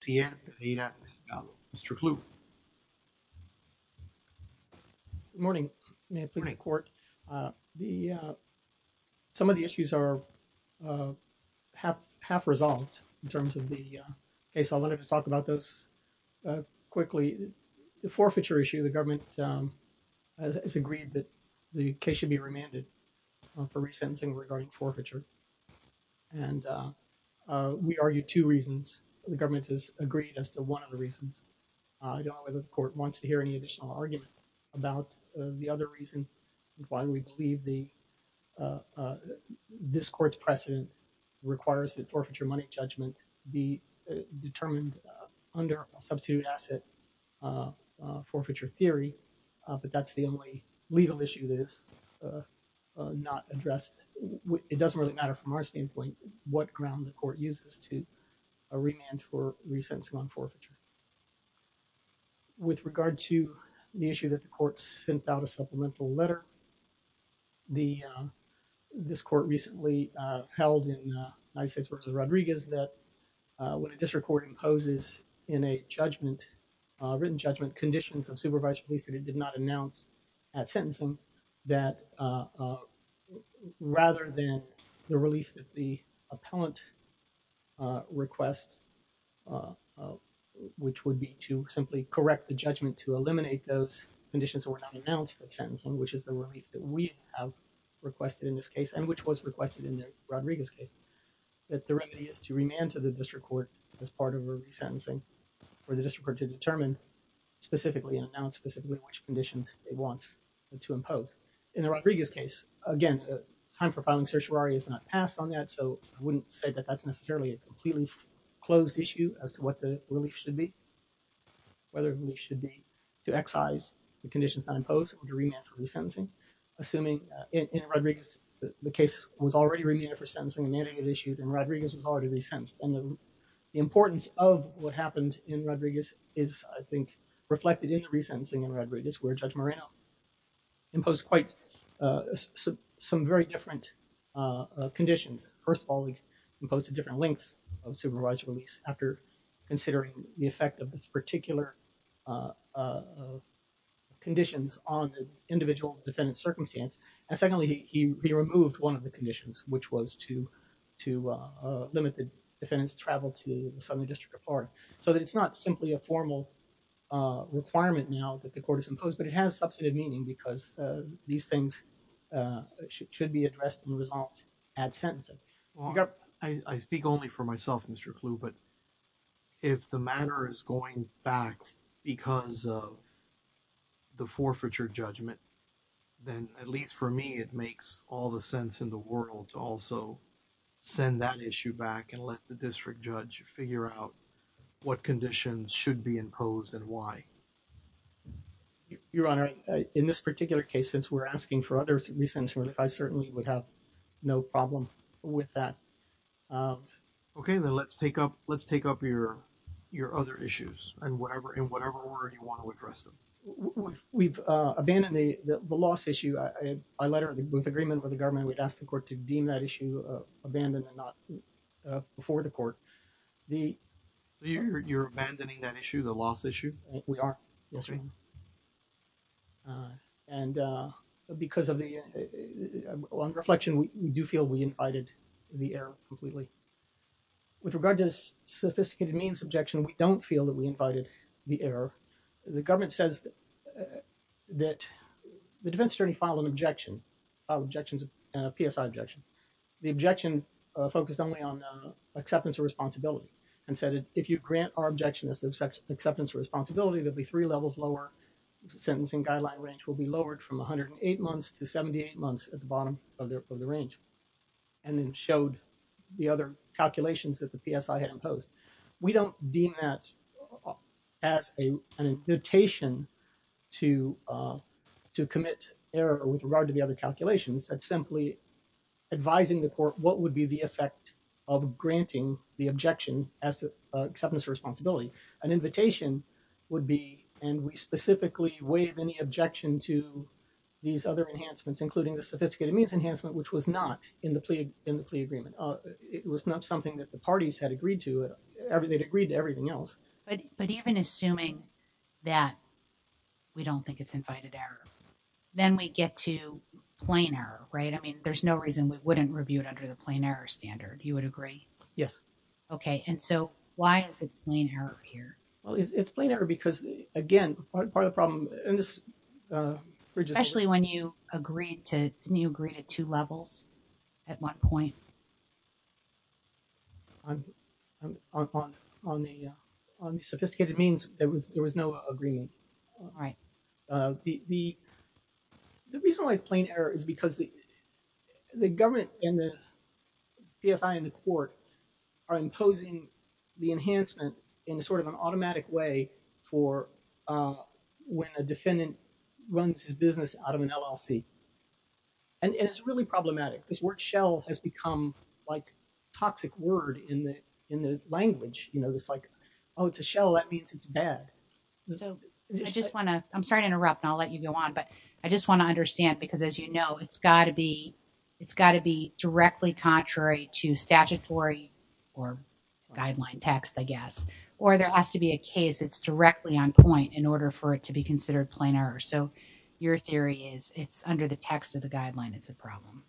T.N. Mr. Kluge. Good morning. May it please the court. Some of the issues are half-resolved in terms of the case. I'll let him talk about those quickly. The forfeiture issue, the government has agreed that the case should be remanded for resentencing regarding forfeiture. And we argue two reasons. The government has agreed as to one of the reasons. I don't know whether the court wants to hear any additional argument about the other reason why we believe this court's precedent requires that forfeiture money judgment be determined under a substitute asset forfeiture theory. But that's the only legal issue that is not addressed. It doesn't really from our standpoint what ground the court uses to remand for resentencing on forfeiture. With regard to the issue that the court sent out a supplemental letter, this court recently held in 96 versus Rodriguez that when a district court imposes in a judgment, written judgment, conditions of supervised police that it did not announce at sentencing that rather than the relief that the appellant requests, which would be to simply correct the judgment to eliminate those conditions that were not announced at sentencing, which is the relief that we have requested in this case and which was requested in the Rodriguez case, that the remedy is to remand to the district court as part of a resentencing for the district court to again, time for filing certiorari is not passed on that. So I wouldn't say that that's necessarily a completely closed issue as to what the relief should be, whether it should be to excise the conditions that are imposed to remand for resentencing. Assuming in Rodriguez, the case was already remanded for sentencing, and Rodriguez was already resentenced. And the importance of what happened in Rodriguez is, I think, reflected in the resentencing in Rodriguez where Judge some very different conditions. First of all, we imposed a different length of supervised release after considering the effect of the particular conditions on the individual defendant circumstance. And secondly, he removed one of the conditions, which was to limit the defendant's travel to the Southern District of Florida, so that it's not simply a formal requirement now that the should be addressed and resolved at sentencing. I speak only for myself, Mr. Clue, but if the matter is going back because of the forfeiture judgment, then at least for me, it makes all the sense in the world to also send that issue back and let the district judge figure out what conditions should be imposed and why. Your Honor, in this particular case, since we're asking for other reasons, I certainly would have no problem with that. Okay, then let's take up your other issues in whatever order you want to address them. We've abandoned the loss issue. With agreement with the government, we'd ask the court to deem that issue abandoned and not the court. You're abandoning that issue, the loss issue? We are, yes. And because of the reflection, we do feel we invited the error completely. With regard to this sophisticated means objection, we don't feel that we invited the error. The government says that the defense attorney filed an objection, a PSI objection. The objection focused only on acceptance of responsibility and said if you grant our objection acceptance of responsibility, there'll be three levels lower. Sentencing guideline range will be lowered from 108 months to 78 months at the bottom of the range and then showed the other calculations that the PSI had imposed. We don't deem that as an invitation to commit error with regard to the other calculations. It's simply advising the court what would be the effect of granting the objection as to acceptance of responsibility. An invitation would be, and we specifically waive any objection to these other enhancements, including the sophisticated means enhancement, which was not in the plea agreement. It was not something that the parties had agreed to. They'd agreed to everything else. But even assuming that we don't think it's invited error, then we get to plain error, right? I mean, there's no reason we wouldn't review it under the plain error standard. You would agree? Yes. Okay. And so why is it plain error here? Well, it's plain error because again, part of the problem in this... Especially when you agreed to, didn't you agree to two levels at one point? On the sophisticated means, there was no agreement. The reason why it's plain error is because the government and the PSI and the court are imposing the enhancement in sort of an automatic way for when a defendant runs his business out of an LLC. And it's really problematic. This word shell has become like toxic word in the language. It's like, oh, it's a shell. That means it's bad. I'm sorry to interrupt and I'll let you go on, but I just want to understand because as you know, it's got to be directly contrary to statutory or guideline text, I guess, or there has to be a case that's directly on point in order for it to be considered plain error. So your theory is it's under the text of the guideline, it's a problem.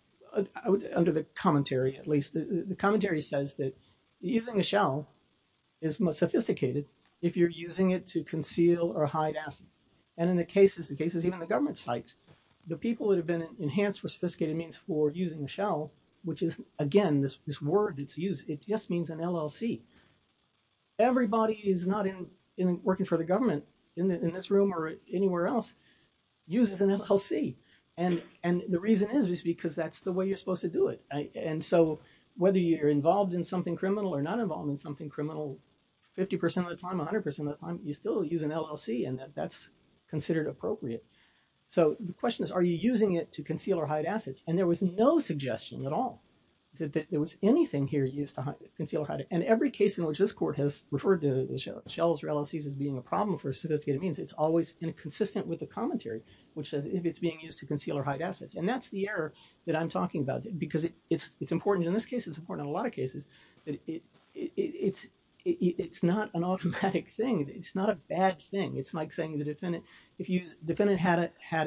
Under the commentary, at least. The commentary says that using a shell is more sophisticated if you're using it to conceal or hide assets. And in the cases, even the government sites, the people that have been enhanced for sophisticated means for using a shell, which is again, this word that's used, it just means an LLC. Everybody is not in working for the government in this room or anywhere else uses an LLC. And the reason is because that's the way you're supposed to do it. And so whether you're involved in something criminal or not involved in something criminal, 50% of the time, 100% of the time, you still use an LLC and that's considered appropriate. So the question is, are you using it to conceal or hide assets? And there was no suggestion at all that there was anything here used to conceal or hide it. And every case in which this court has referred to shells or LLCs as being a problem for sophisticated means, it's always consistent with the commentary, which says if it's being used to conceal or hide assets. And that's the error that I'm talking about because it's important in this case, it's important in a lot of cases. It's not an automatic thing. It's not a bad thing. It's like saying the defendant, if the defendant had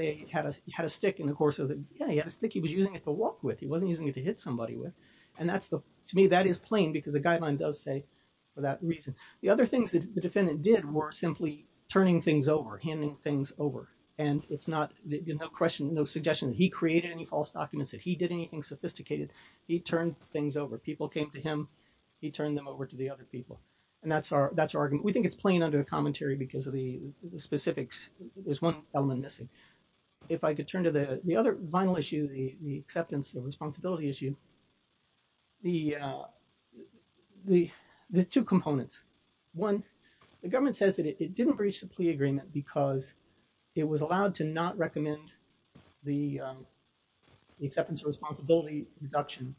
a stick in the course of the day, he had a stick, he was using it to walk with. He wasn't using it to hit somebody with. And to me, that is plain because the guideline does say for that reason. The other things that the defendant did were simply turning things over, handing things over. And it's not, no question, no suggestion that he created any false documents, that he did anything sophisticated. He turned things over. People came to him, he turned them over to the other people. And that's our argument. We think it's plain under the commentary because of the specifics. There's one element missing. If I could turn to the other final issue, the acceptance of responsibility issue, the two components. One, the government says that it didn't breach the plea agreement because it was allowed to not recommend the acceptance of responsibility reduction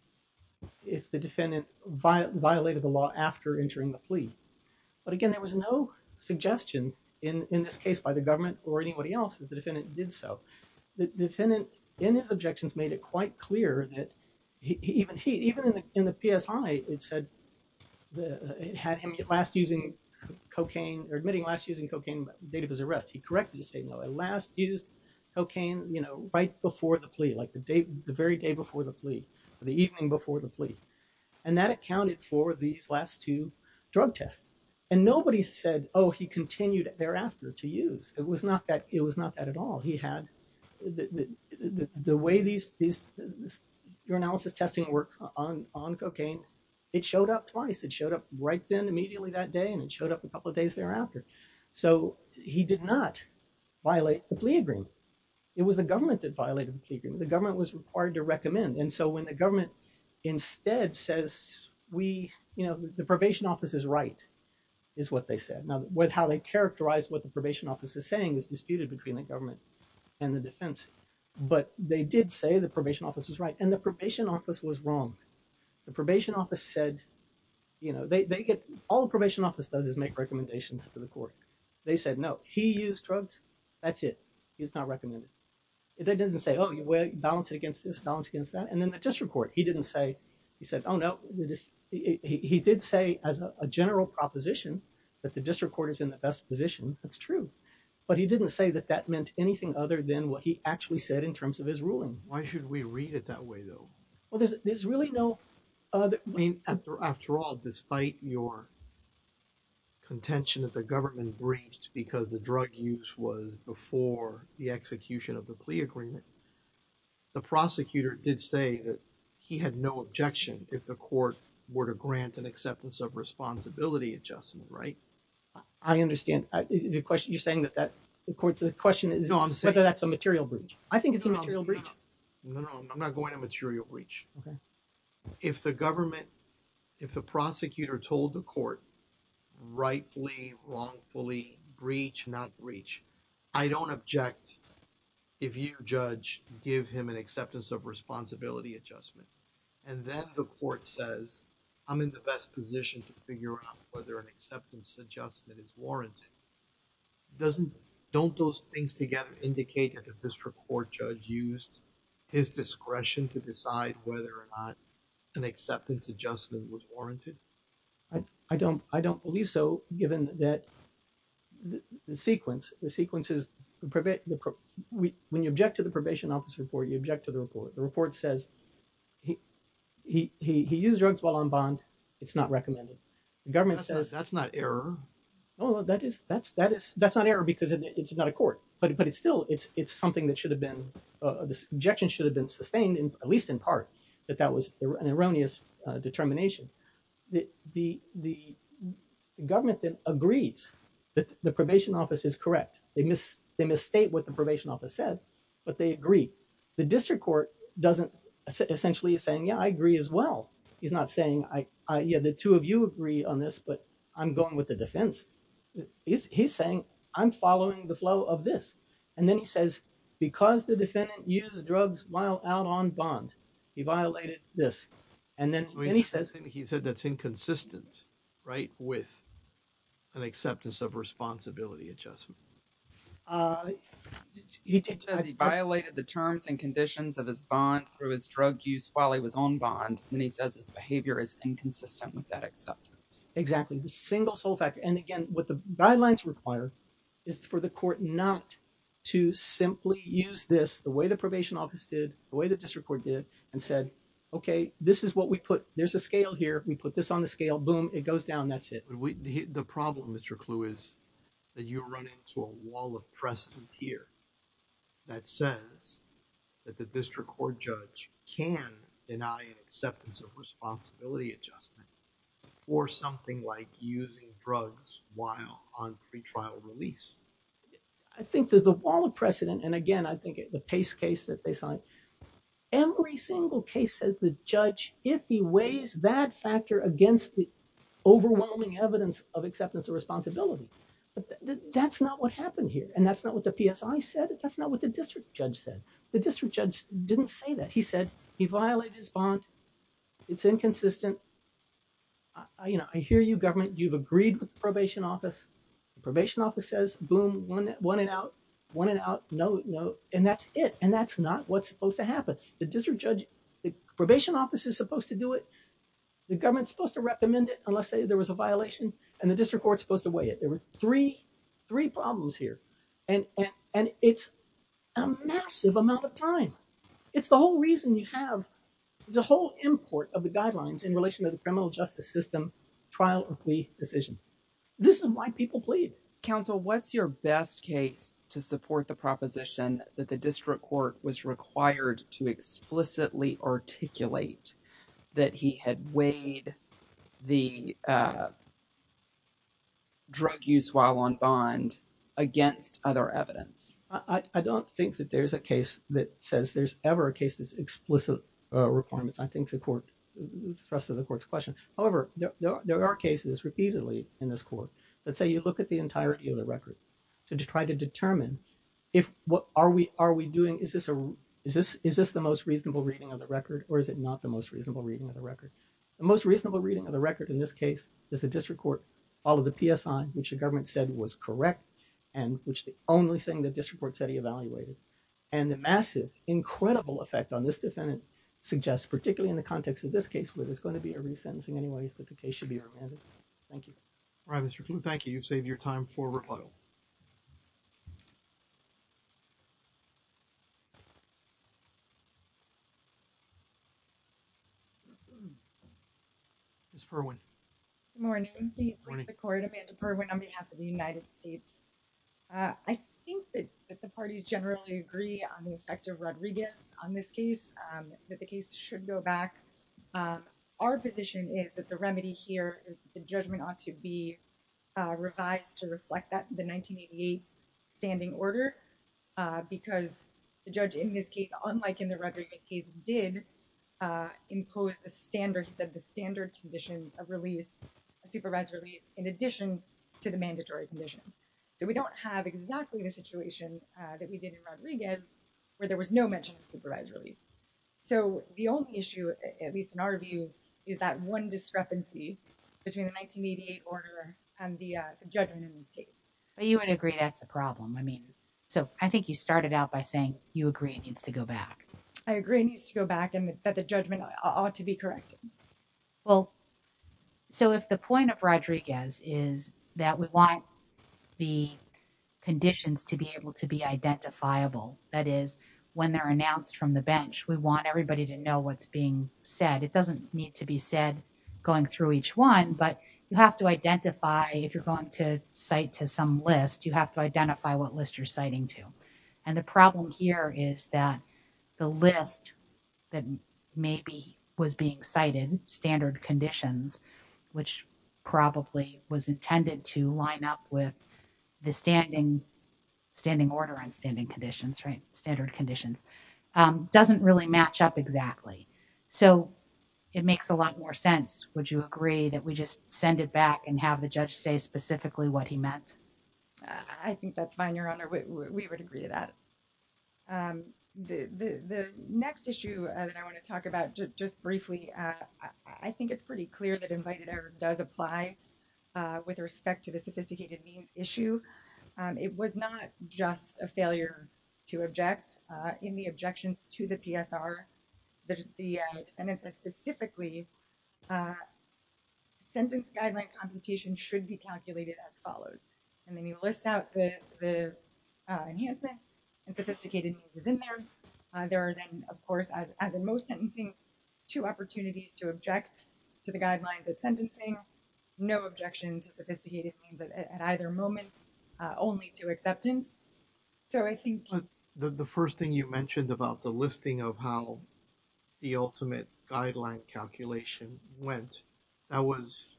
if the defendant violated the law after entering the plea. But again, there was no suggestion in this case by the government or anybody else that the objections made it quite clear that even in the PSI, it said it had him last using cocaine, or admitting last using cocaine by the date of his arrest. He correctly said no, he last used cocaine right before the plea, like the day, the very day before the plea, the evening before the plea. And that accounted for these last two drug tests. And nobody said, oh, he continued thereafter to use. It was not that, it was not that at all. He had, the way these urinalysis testing works on cocaine, it showed up twice. It showed up right then, immediately that day, and it showed up a couple of days thereafter. So he did not violate the plea agreement. It was the government that violated the plea agreement. The government was required to recommend. And so when the government instead says, we, you know, the probation office is right, is what they said. Now, how they characterized what the probation office is saying was disputed between the government and the defense, but they did say the probation office was right. And the probation office was wrong. The probation office said, you know, they get, all the probation office does is make recommendations to the court. They said, no, he used drugs. That's it. He's not recommended. It didn't say, oh, you balance it against this, balance against that. And then the district court, he didn't say, he said, oh no, he did say as a general proposition that the district court is in the best position. That's true. But he didn't say that that meant anything other than what he actually said in terms of his ruling. Why should we read it that way though? Well, there's really no... I mean, after all, despite your contention that the government breached because the drug use was before the execution of the plea agreement, the prosecutor did say that he had no objection if the court were to grant an acceptance of responsibility adjustment. I understand the question you're saying that the court's question is whether that's a material breach. I think it's a material breach. No, I'm not going to material breach. If the government, if the prosecutor told the court rightfully, wrongfully breach, not breach, I don't object if you judge, give him an acceptance of responsibility adjustment. And then the court says, I'm in the best position to figure out whether an acceptance adjustment is warranted. Don't those things together indicate that the district court judge used his discretion to decide whether or not an acceptance adjustment was warranted? I don't believe so, given that the sequence, the sequences, when you object to the probation office report, you object to the report. The report says he, he, he, he used drugs while on bond. It's not recommended. The government says that's not error. No, that is, that's, that is, that's not error because it's not a court, but, but it's still, it's, it's something that should have been, this objection should have been sustained, at least in part, that that was an erroneous determination. The, the, the government then agrees that the probation office is correct. They miss, they misstate what the probation office said, but they agree. The district court doesn't essentially saying, yeah, I agree as well. He's not saying I, I, yeah, the two of you agree on this, but I'm going with the defense. He's, he's saying I'm following the flow of this. And then he says, because the defendant used drugs while out on bond, he violated this. And then he says, he said that's inconsistent, right? With an acceptance of responsibility adjustment. Uh, he did say he violated the terms and conditions of his bond through his drug use while he was on bond. And he says his behavior is inconsistent with that acceptance. Exactly. The single sole fact. And again, what the guidelines require is for the court not to simply use this the way the probation office did the way the district court did and said, okay, this is what we put. There's a scale here. We put this on the scale. Boom, it goes down. That's it. The problem, Mr. Clue is that you run into a wall of precedent here that says that the district court judge can deny an acceptance of responsibility adjustment or something like using drugs while on pretrial release. I think that the wall of precedent. And again, I think the pace case that they signed every single case says the judge, if he weighs that factor against the overwhelming evidence of acceptance of responsibility, that's not what happened here. And that's not what the PSI said. That's not what the district judge said. The district judge didn't say that. He said he violated his bond. It's inconsistent. I, you know, I hear you government. You've agreed with the probation office. The probation office says, boom, one, one and out, one and out. No, no. And that's it. And that's not what's supposed to happen. The district judge, the probation office is supposed to do it. The government's supposed to recommend it unless say there was a violation and the district court's supposed to weigh it. There were three, three problems here. And, and, and it's a massive amount of time. It's the whole reason you have, there's a whole import of the guidelines in relation to the criminal justice system, trial or plea decision. This is why people plead. Counsel, what's your best case to support the proposition that the district court was required to explicitly articulate that he had weighed the drug use while on bond against other evidence? I don't think that there's a case that says there's ever a case that's explicit requirements. I think the court, the rest of the court's question. However, there are cases repeatedly in this court that say, you look at the entirety of the record to try to determine if what are we, are we doing? Is this a, is this, is this the most reasonable reading of the record or is it not the most reasonable reading of the record? The most reasonable reading of the record in this case is the district court, all of the PSI, which the government said was correct and which the only thing that district court said he evaluated. And the massive, incredible effect on this defendant suggests, particularly in the context of this case, where there's going to be a re-sentencing anyway, that the case should be remanded. Thank you. All right, Mr. Flew, thank you. You've saved your time for rebuttal. Ms. Perwin. Good morning. The District Court, Amanda Perwin on behalf of the United States. I think that the parties generally agree on the effect of Rodriguez on this case, that the case should go back. Our position is that the remedy here is the judgment ought to be revised to reflect that the 1988 standing order, because the judge in this case, unlike in the Rodriguez case, did impose the standard, he said the standard conditions of release, a supervised release, in addition to the mandatory conditions. So we don't have exactly the So the only issue, at least in our view, is that one discrepancy between the 1988 order and the judgment in this case. But you would agree that's a problem. I mean, so I think you started out by saying you agree it needs to go back. I agree it needs to go back and that the judgment ought to be corrected. Well, so if the point of Rodriguez is that we want the conditions to be able to be identifiable, that is when they're announced from the bench, we want everybody to know what's being said. It doesn't need to be said going through each one, but you have to identify if you're going to cite to some list, you have to identify what list you're citing to. And the problem here is that the list that maybe was being cited standard conditions, which probably was intended to line up with the standing order on standing conditions, standard conditions, doesn't really match up exactly. So it makes a lot more sense. Would you agree that we just send it back and have the judge say specifically what he meant? I think that's fine, Your Honor. We would agree to that. The next issue that I want to talk about just briefly, I think it's pretty clear that issue. It was not just a failure to object. In the objections to the PSR, the defendant said specifically, sentence guideline computation should be calculated as follows. And then you list out the enhancements and sophisticated means is in there. There are then, of course, as in most sentencing, two opportunities to object to the guidelines of sentencing, no objection to sophisticated means at either moment, only to acceptance. So I think the first thing you mentioned about the listing of how the ultimate guideline calculation went, that was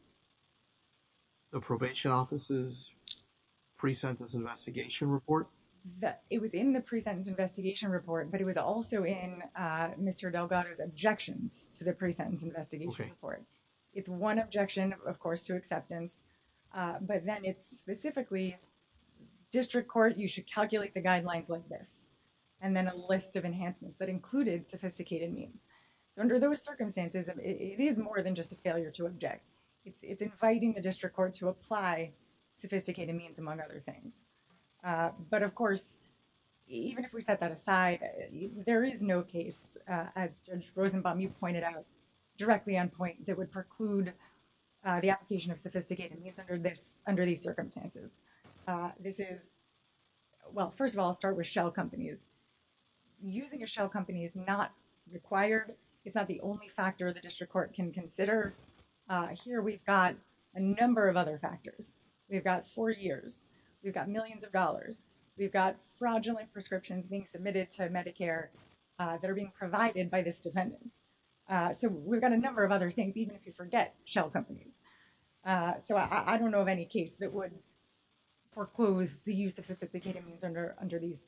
the probation office's pre-sentence investigation report. It was in the pre-sentence investigation report, but it was also in Mr. Delgado's objections to the pre-sentence investigation report. It's one objection, of course, to acceptance, but then it's specifically district court, you should calculate the guidelines like this, and then a list of enhancements that included sophisticated means. So under those circumstances, it is more than just a failure to object. It's inviting the district court to apply sophisticated means among other things. But of course, even if we set that aside, there is no case, as Judge Rosenbaum, you pointed out directly on point, that would preclude the application of sophisticated means under these circumstances. This is, well, first of all, I'll start with shell companies. Using a shell company is not required. It's not the only factor the district court can consider. Here we've got a number of other factors. We've got four years. We've got millions of dollars. We've got fraudulent prescriptions being submitted to Medicare that are being provided by this defendant. So we've got a number of other things, even if you forget shell companies. So I don't know of any case that would foreclose the use of sophisticated means under these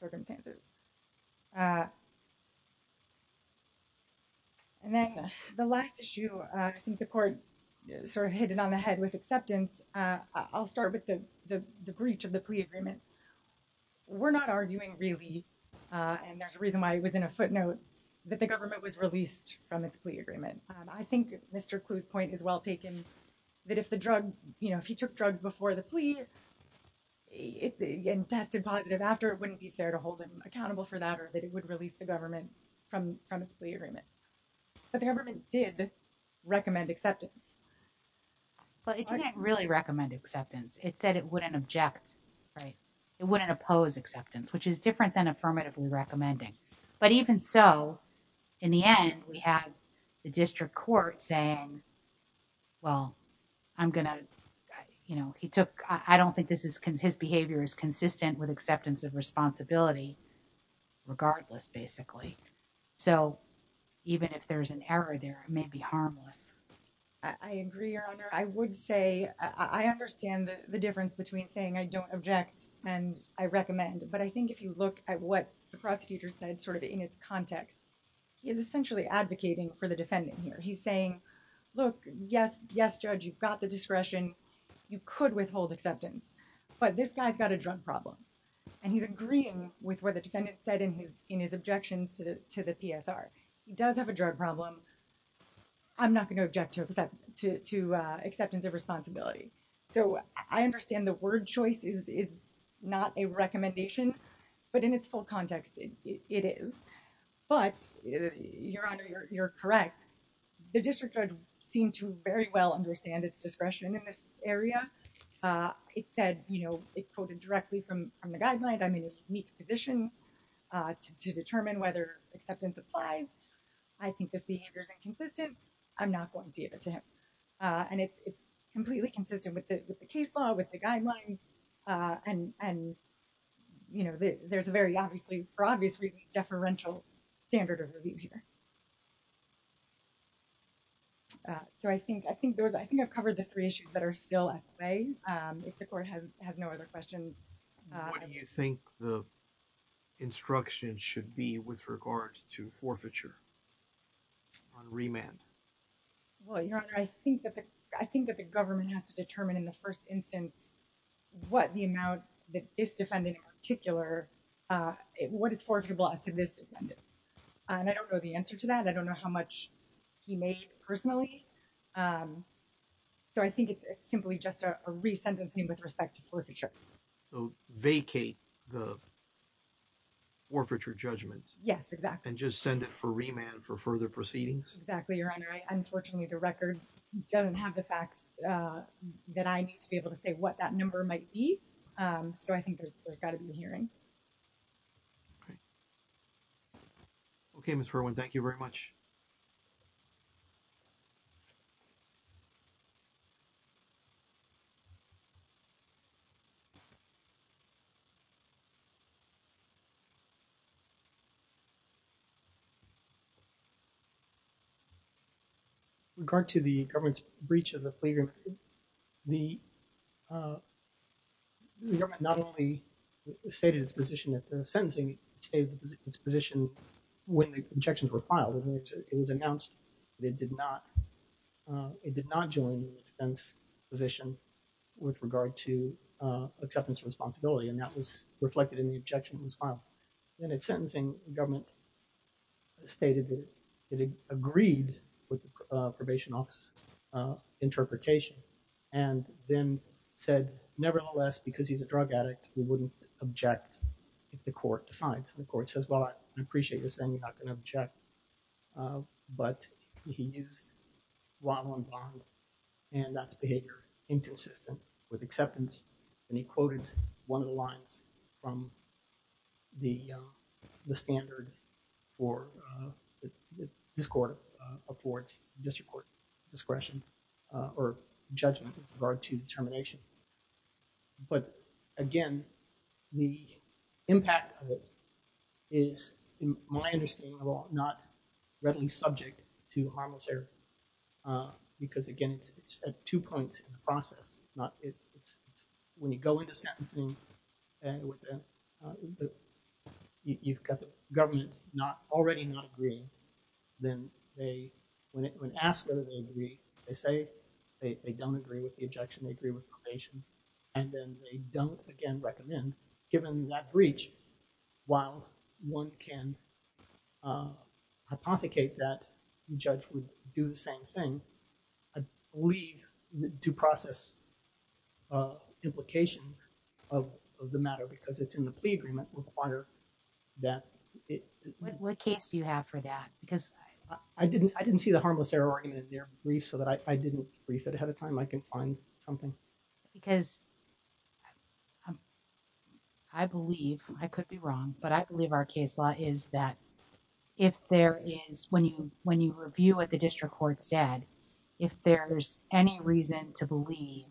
circumstances. And then the last issue, I think the court sort of hit it on the head with acceptance. I'll start with the breach of the plea agreement. We're not arguing really, and there's a reason I was in a footnote, that the government was released from its plea agreement. I think Mr. Clue's point is well taken, that if he took drugs before the plea and tested positive after, it wouldn't be fair to hold him accountable for that, or that it would release the government from its plea agreement. But the government did recommend acceptance. But it didn't really recommend acceptance. It said it wouldn't object, right? It wouldn't oppose acceptance, which is different than affirmatively recommending. But even so, in the end, we had the district court saying, well, I'm going to, you know, he took, I don't think this is, his behavior is consistent with acceptance of responsibility, regardless basically. So even if there's an error there, it may be harmless. I agree, Your Honor. I would say, I understand the difference between saying I don't object and I recommend. But I think if you look at what the prosecutor said, sort of in its context, he is essentially advocating for the defendant here. He's saying, look, yes, yes, Judge, you've got the discretion. You could withhold acceptance, but this guy's got a drug problem. And he's agreeing with what the defendant said in his objections to the PSR. He does have a drug problem. I'm not going to object to acceptance of responsibility. So I understand the word choice is not a recommendation, but in its full context, it is. But Your Honor, you're correct. The district judge seemed to very well understand its discretion in this area. It said, you know, it quoted directly from the guideline. I'm in a unique position to determine whether acceptance applies. I think this behavior is inconsistent. I'm not going to give it to him. And it's completely consistent with the case law, with the guidelines. And, you know, there's a very obviously deferential standard of review here. So I think I've covered the three issues that are still at play. If the court has no other questions. What do you think the instruction should be with regards to forfeiture on remand? Well, Your Honor, I think that the government has to determine in the first instance, what the amount that this defendant in particular, what is forfeitable as to this defendant. And I don't know the answer to that. I don't know how much he made personally. So I think it's simply just a resentencing with respect to forfeiture. So vacate the forfeiture judgment. Yes, exactly. And just send it for remand for further proceedings. Exactly, Your Honor. Unfortunately, the record doesn't have the facts that I need to be able to say what that number might be. So I think there's got to be a hearing. Okay. Okay, Mr. Irwin. Thank you very much. With regard to the government's breach of the plea agreement, the government not only stated its position at the sentencing, it stated its position when the objections were filed. It was announced that it did not join the defense position with regard to acceptance of responsibility. And that was reflected in the objection that was filed. And at sentencing, the government stated that it agreed with the probation office interpretation, and then said, nevertheless, because he's a drug addict, he wouldn't object if the court decides. And the court says, well, I appreciate you're saying you're not going to object. But he used while on bond, and that's inconsistent with acceptance. And he quoted one of the lines from the standard for this court affords district court discretion, or judgment with regard to termination. But again, the impact of it is, in my understanding, not readily subject to harmless error. Because again, it's at two points in the process. When you go into sentencing, and you've got the government already not agreeing, then when asked whether they agree, they say they don't agree with the objection, they agree with probation. And then they don't, again, recommend, given that breach, while one can hypothecate that the judge would do the same thing, I believe due process implications of the matter, because it's in the plea agreement, require that it... What case do you have for that? Because... I didn't see the harmless error argument in their brief, so that I didn't brief it ahead of time. I can find something. Because I believe, I could be wrong, but I believe our case law is that if there is... When you review what the district court said, if there's any reason to believe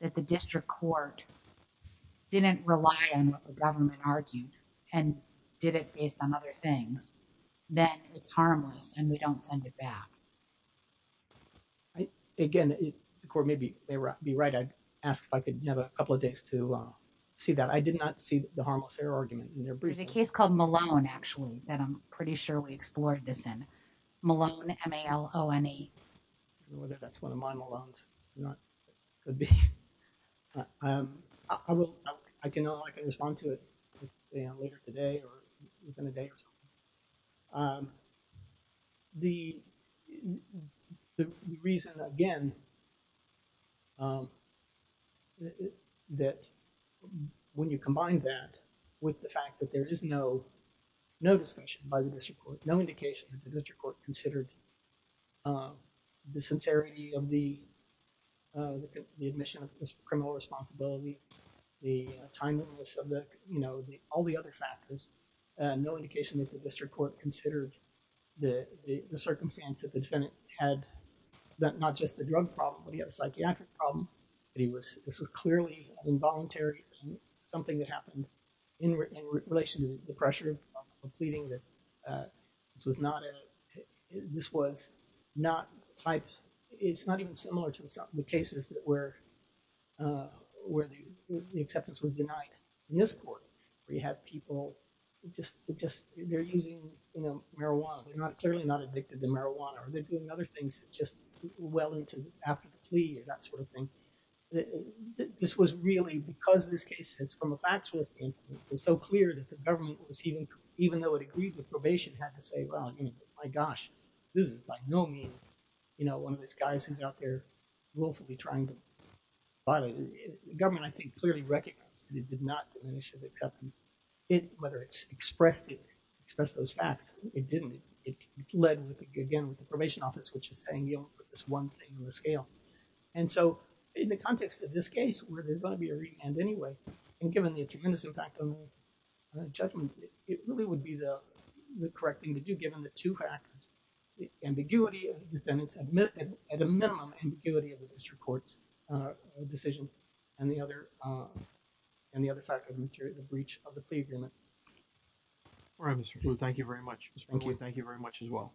that the district court didn't rely on what the government argued and did it based on other things, then it's harmless and we don't send it back. Again, the court may be right. I'd ask if I could have a couple of days. See that. I did not see the harmless error argument in their brief. There's a case called Malone, actually, that I'm pretty sure we explored this in. Malone, M-A-L-O-N-E. Whether that's one of my Malones or not, could be. I can only respond to it later today or within a day or so. The reason, again, that when you combine that with the fact that there is no distinction by the district court, no indication that the district court considered the sincerity of the admission of criminal responsibility, the timeliness of the... No indication that the district court considered the circumstance that the defendant had, that not just the drug problem, but he had a psychiatric problem. This was clearly involuntary and something that happened in relation to the pressure of pleading that this was not a... This was not the type... It's not even similar to the cases that were... We had people just... They're using marijuana. They're clearly not addicted to marijuana or they're doing other things just well into after the plea or that sort of thing. This was really, because this case is from a factual standpoint, it was so clear that the government was even though it agreed with probation, had to say, well, my gosh, this is by no means one of these guys who's out there willfully trying to... The government, I think, clearly recognized that it did not diminish his acceptance. Whether it's expressed those facts, it didn't. It led, again, with the probation office, which is saying you only put this one thing on the scale. In the context of this case, where there's going to be a remand anyway, and given the tremendous impact on the judgment, it really would be the correct thing to do given the two factors, the ambiguity of the defendants, at a minimum, ambiguity of the district court's decision, and the other factor, the breach of the plea agreement. All right, Mr. Pruitt. Thank you very much. Mr. Pruitt, thank you very much as well.